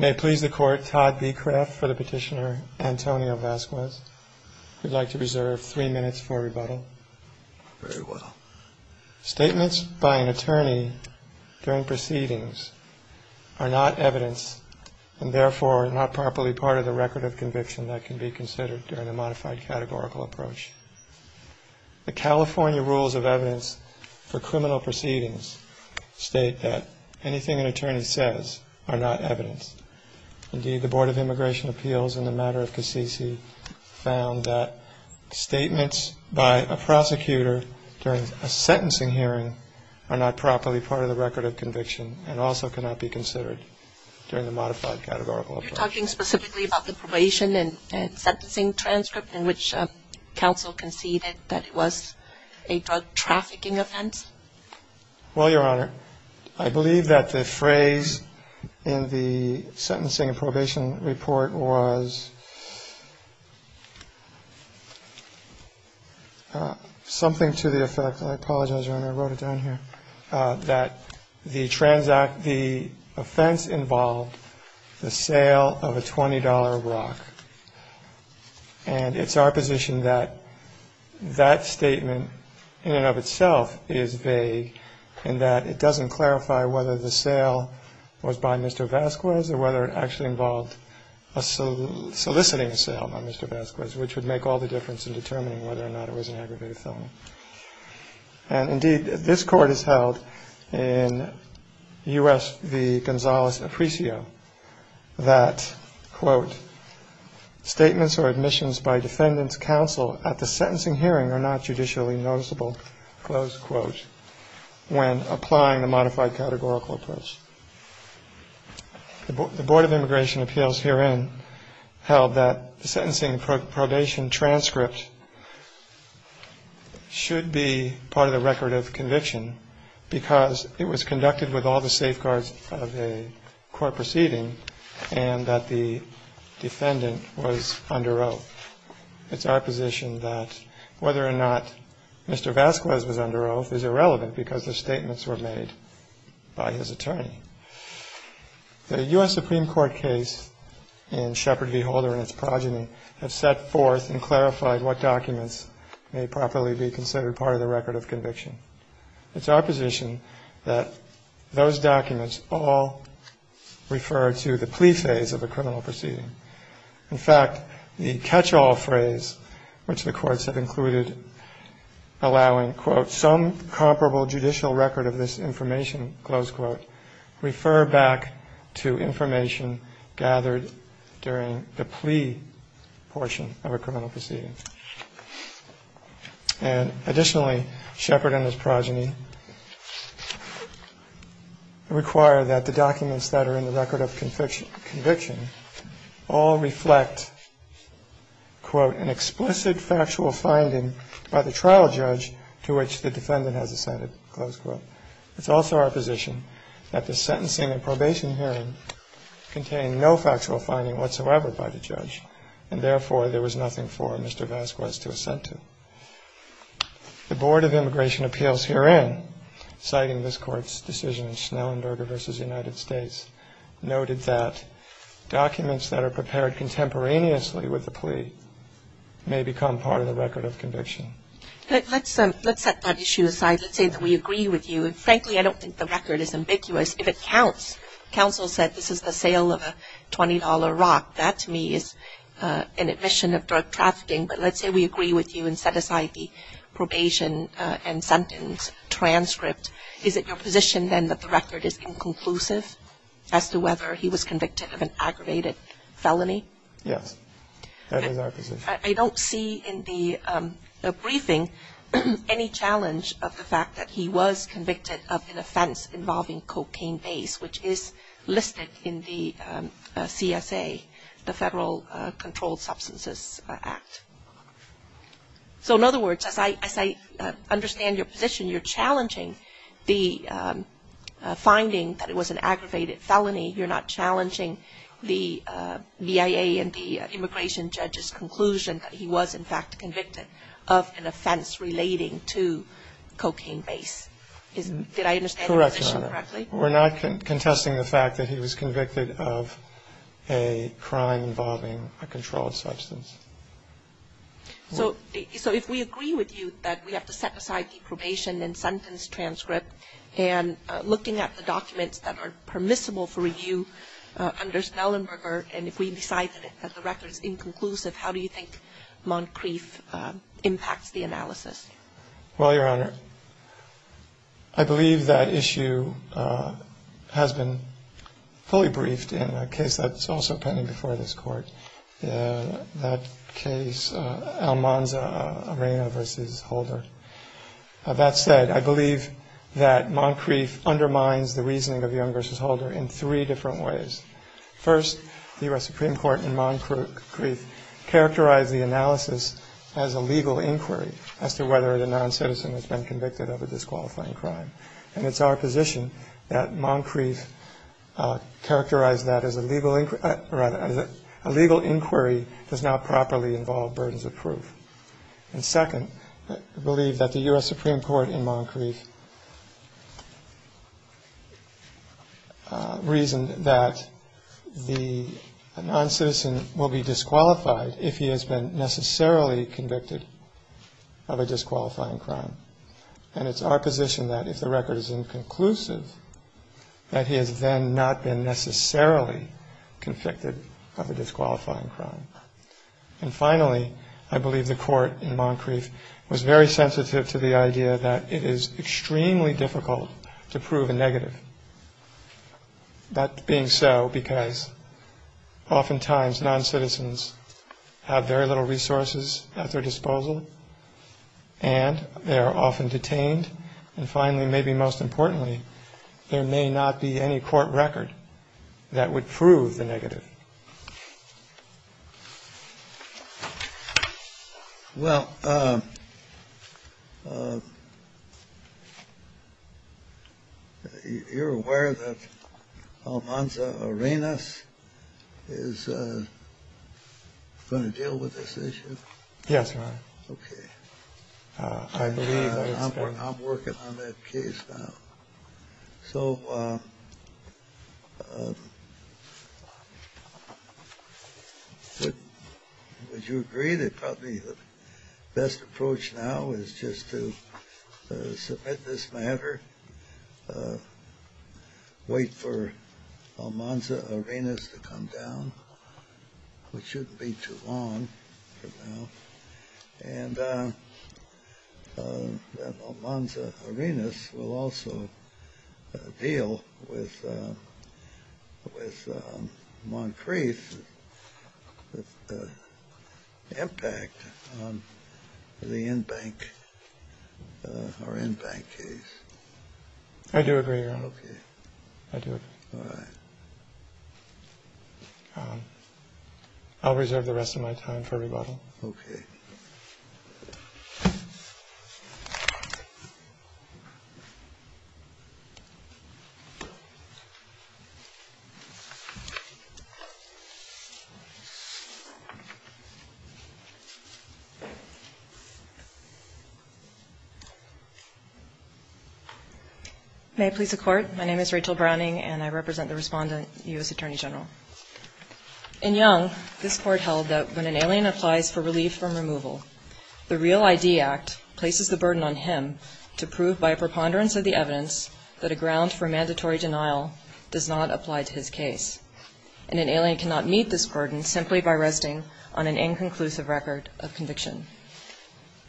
May it please the Court, Todd Becraft for the petitioner, Antonio Vazquez. We'd like to reserve three minutes for rebuttal. Very well. Statements by an attorney during proceedings are not evidence and therefore are not properly part of the record of conviction that can be considered during a modified categorical approach. The California rules of evidence for criminal proceedings state that anything an attorney says are not evidence. Indeed, the Board of Immigration Appeals in the matter of Cassisi found that statements by a prosecutor during a sentencing hearing are not properly part of the record of conviction and also cannot be considered during the modified categorical approach. Regarding the probation and sentencing transcript, in which counsel conceded that it was a drug trafficking offense? Well, Your Honor, I believe that the phrase in the sentencing and probation report was something to the effect, I apologize, Your Honor, I wrote it down here, that the offense involved the sale of a $20 rock. And it's our position that that statement in and of itself is vague in that it doesn't clarify whether the sale was by Mr. Vasquez or whether it actually involved soliciting a sale by Mr. Vasquez, which would make all the difference in determining whether or not it was an aggravated felony. And indeed, this Court has held in U.S. v. Gonzales-Apricio that, quote, statements or admissions by defendant's counsel at the sentencing hearing are not judicially noticeable, close quote, when applying the modified categorical approach. The Board of Immigration Appeals herein held that the sentencing and probation transcript should be part of the record of conviction because it was conducted with all the safeguards of a court proceeding and that the defendant was under oath. It's our position that whether or not Mr. Vasquez was under oath is irrelevant because the statements were made by his attorney. The U.S. Supreme Court case in Shepard v. Holder and its progeny have set forth and clarified what documents may properly be considered part of the record of conviction. It's our position that those documents all refer to the plea phase of a criminal proceeding. In fact, the catch-all phrase which the courts have included allowing, quote, some comparable judicial record of this information, close quote, refer back to information gathered during the plea portion of a criminal proceeding. And additionally, Shepard and his progeny require that the documents that are in the record of conviction all reflect, quote, an explicit factual finding by the trial judge to which the defendant has assented, close quote. It's also our position that the sentencing and probation hearing contained no factual finding whatsoever by the judge and therefore there was nothing for Mr. Vasquez to assent to. The Board of Immigration Appeals herein, citing this Court's decision in Schnellenberger v. United States, noted that documents that are prepared contemporaneously with the plea may become part of the record of conviction. Let's set that issue aside. Let's say that we agree with you. And frankly, I don't think the record is ambiguous. If it counts, counsel said this is the sale of a $20 rock. That to me is an admission of drug trafficking. But let's say we agree with you and set aside the probation and sentence transcript. Is it your position then that the record is inconclusive as to whether he was convicted of an aggravated felony? Yes. That is our position. I don't see in the briefing any challenge of the fact that he was convicted of an offense involving cocaine base, which is listed in the CSA, the Federal Controlled Substances Act. So in other words, as I understand your position, you're challenging the finding that it was an aggravated felony. You're not challenging the V.I.A. and the immigration judge's conclusion that he was, in fact, convicted of an offense relating to cocaine base. Correct, Your Honor. We're not contesting the fact that he was convicted of a crime involving a controlled substance. So if we agree with you that we have to set aside the probation and sentence transcript and looking at the documents that are permissible for review under Snellenberger, and if we decide that the record is inconclusive, how do you think Moncrief impacts the analysis? Well, Your Honor, I believe that issue has been fully briefed in a case that's also pending before this Court, that case, Almanza Arena v. Holder. That said, I believe that Moncrief undermines the reasoning of Young v. Holder in three different ways. First, the U.S. Supreme Court in Moncrief characterized the analysis as a legal inquiry as to whether the noncitizen has been convicted of a disqualifying crime. And it's our position that Moncrief characterized that as a legal inquiry does not properly involve burdens of proof. And second, I believe that the U.S. Supreme Court in Moncrief reasoned that the noncitizen will be disqualified if he has been necessarily convicted of a disqualifying crime. And it's our position that if the record is inconclusive, that he has then not been necessarily convicted of a disqualifying crime. And finally, I believe the Court in Moncrief was very sensitive to the idea that it is extremely difficult to prove a negative, that being so because oftentimes noncitizens have very little resources at their disposal, and they are often detained, and finally, maybe most importantly, there may not be any court record that would prove the negative. Kennedy. Well, you're aware that Almanza Arenas is going to deal with this issue? Yes, Your Honor. Okay. I believe I understand. I'm working on that case now. So would you agree that probably the best approach now is just to submit this matter, wait for Almanza Arenas to come down, which shouldn't be too long from now, and that Almanza Arenas will also deal with Moncrief's impact on the in-bank case? I do agree, Your Honor. Okay. I do agree. All right. I'll reserve the rest of my time for rebuttal. Okay. May it please the Court. My name is Rachel Browning, and I represent the Respondent, U.S. Attorney General. In Young, this Court held that when an alien applies for relief from removal, the Real ID Act places the burden on him to prove by a preponderance of the evidence that a ground for mandatory denial does not apply to his case, and an alien cannot meet this burden simply by resting on an inconclusive record of conviction.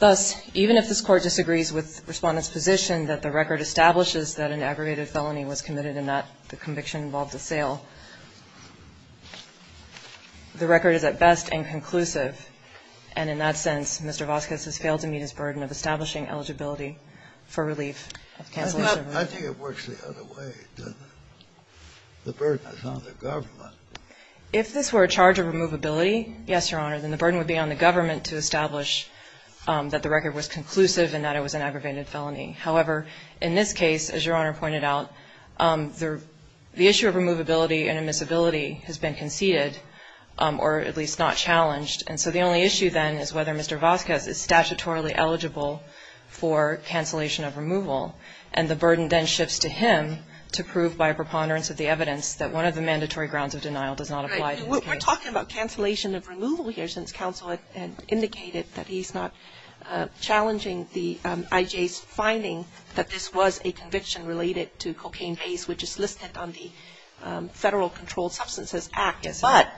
Thus, even if this Court disagrees with Respondent's position that the record establishes that an aggravated felony was committed and not the conviction involved a sale, the record is at best inconclusive. And in that sense, Mr. Vasquez has failed to meet his burden of establishing eligibility for relief of cancellation of removal. I think it works the other way. The burden is on the government. If this were a charge of removability, yes, Your Honor, then the burden would be on the government to establish that the record was conclusive and that it was an aggravated felony. However, in this case, as Your Honor pointed out, the issue of removability and admissibility has been conceded or at least not challenged. And so the only issue then is whether Mr. Vasquez is statutorily eligible for cancellation of removal, and the burden then shifts to him to prove by a preponderance of the evidence that one of the mandatory grounds of denial does not apply to his case. We're talking about cancellation of removal here since counsel indicated that he's not challenging the IJ's finding that this was a conviction related to cocaine base, which is listed on the Federal Controlled Substances Act. But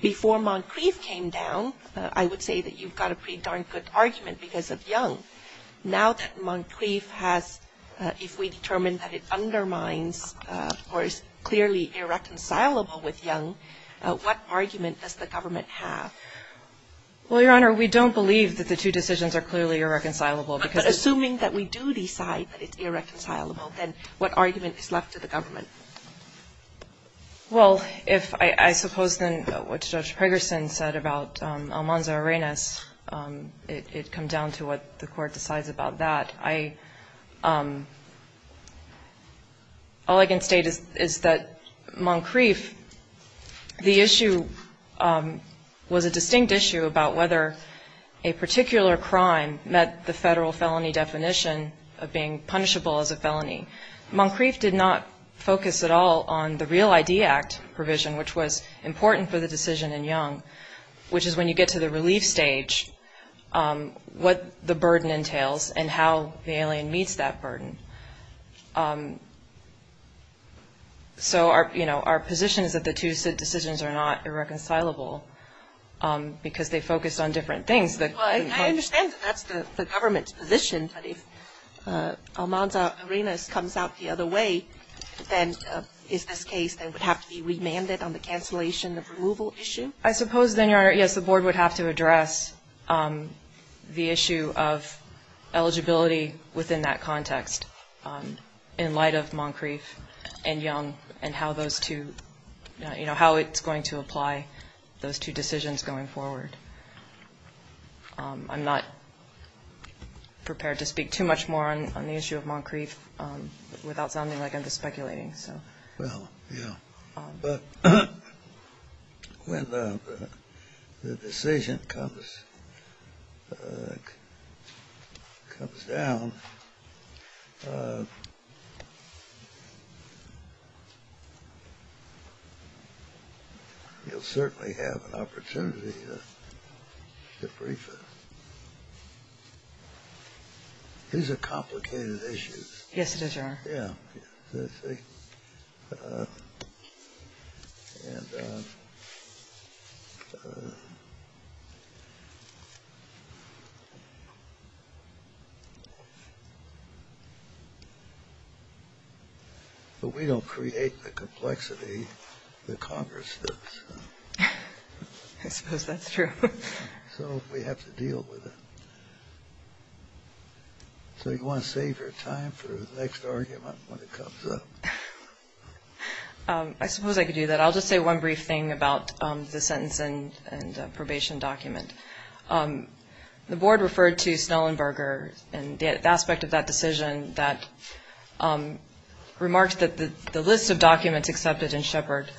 before Moncrief came down, I would say that you've got a pretty darn good argument because of Young. Now that Moncrief has, if we determine that it undermines or is clearly irreconcilable with Young, what argument does the government have? Well, Your Honor, we don't believe that the two decisions are clearly irreconcilable because it's the same. But assuming that we do decide that it's irreconcilable, then what argument is left to the government? Well, if I suppose then what Judge Pegersen said about Almanza Arenas, it comes down to what the Court decides about that. All I can state is that Moncrief, the issue was a distinct issue about whether a particular crime met the Federal felony definition of being punishable as a felony. Moncrief did not focus at all on the Real ID Act provision, which was important for the decision in Young, which is when you get to the relief stage, what the burden entails and how the alien meets that burden. So our position is that the two decisions are not irreconcilable because they focus on different things. I understand that that's the government's position, but if Almanza Arenas comes out the other way, then is this case that would have to be remanded on the cancellation of removal issue? I suppose then, Your Honor, yes, the Board would have to address the issue of eligibility within that context in light of Moncrief and Young and how those two, you know, how it's going to apply those two decisions going forward. I'm not prepared to speak too much more on the issue of Moncrief without sounding like I'm just speculating, so. Well, yeah. But when the decision comes down, you'll certainly have an opportunity to brief it. These are complicated issues. Yes, it is, Your Honor. Yeah. But we don't create the complexity that Congress does. I suppose that's true. So we have to deal with it. So you want to save your time for the next argument when it comes up? I suppose I could do that. I'll just say one brief thing about the sentence and probation document. The Board referred to Snellenberger and the aspect of that decision that remarked that the list of documents accepted in Shepard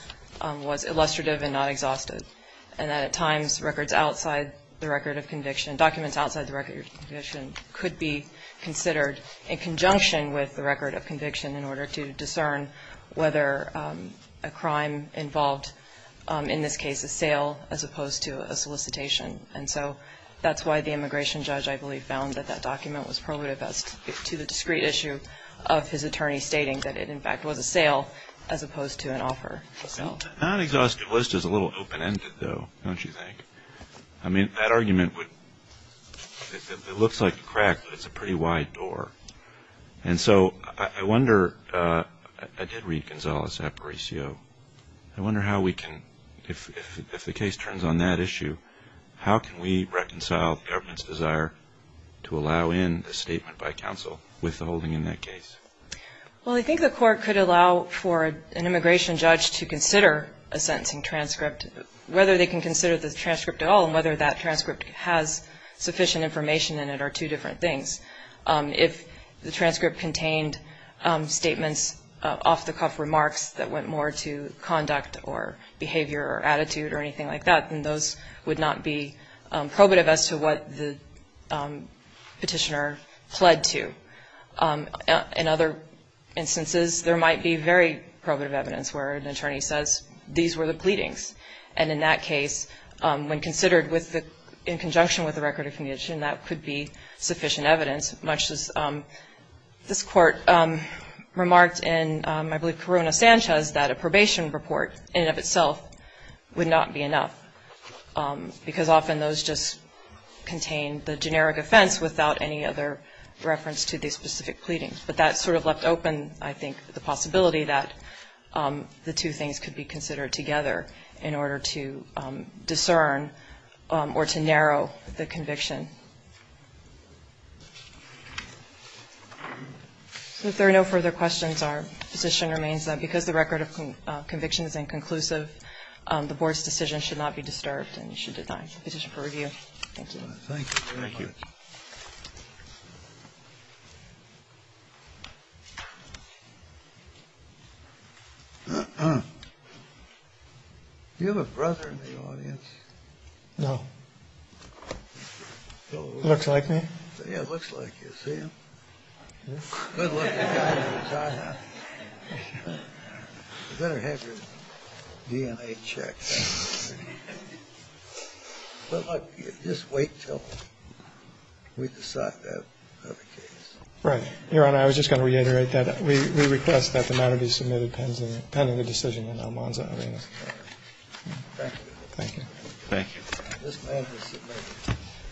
was illustrative and not exhaustive and that at times documents outside the record of conviction could be considered in conjunction with the record of conviction in order to discern whether a crime involved, in this case, a sale as opposed to a solicitation. And so that's why the immigration judge, I believe, found that that document was probative as to the discrete issue of his attorney stating that it, in fact, was a sale as opposed to an offer. The non-exhaustive list is a little open-ended, though, don't you think? I mean, that argument would, it looks like a crack, but it's a pretty wide door. And so I wonder, I did read Gonzales-Aparicio. I wonder how we can, if the case turns on that issue, how can we reconcile the government's desire to allow in a statement by counsel with the holding in that case? Well, I think the court could allow for an immigration judge to consider a sentencing transcript, whether they can consider the transcript at all and whether that transcript has sufficient information in it are two different things. If the transcript contained statements, off-the-cuff remarks that went more to conduct or behavior or attitude or anything like that, then those would not be probative as to what the petitioner pled to. In other instances, there might be very probative evidence where an attorney says these were the pleadings. And in that case, when considered in conjunction with the record of condition, that could be sufficient evidence, much as this Court remarked in, I believe, Corona-Sanchez, that a probation report in and of itself would not be enough because often those just contain the generic offense without any other reference to the specific pleadings. But that sort of left open, I think, the possibility that the two things could be considered together in order to discern or to narrow the conviction. If there are no further questions, our position remains that because the record of conviction is inconclusive, the Board's decision should not be disturbed and should deny the petition for review. Thank you. Thank you very much. Thank you. Do you have a brother in the audience? No. Looks like me. Yeah, looks like you. See him? Good looking guy. You better have your DNA checked. Just wait until we decide that other case. Right. Your Honor, I was just going to reiterate that. We request that the matter be submitted pending the decision in Almanza Arena. Thank you. Thank you. Thank you. This matter is submitted.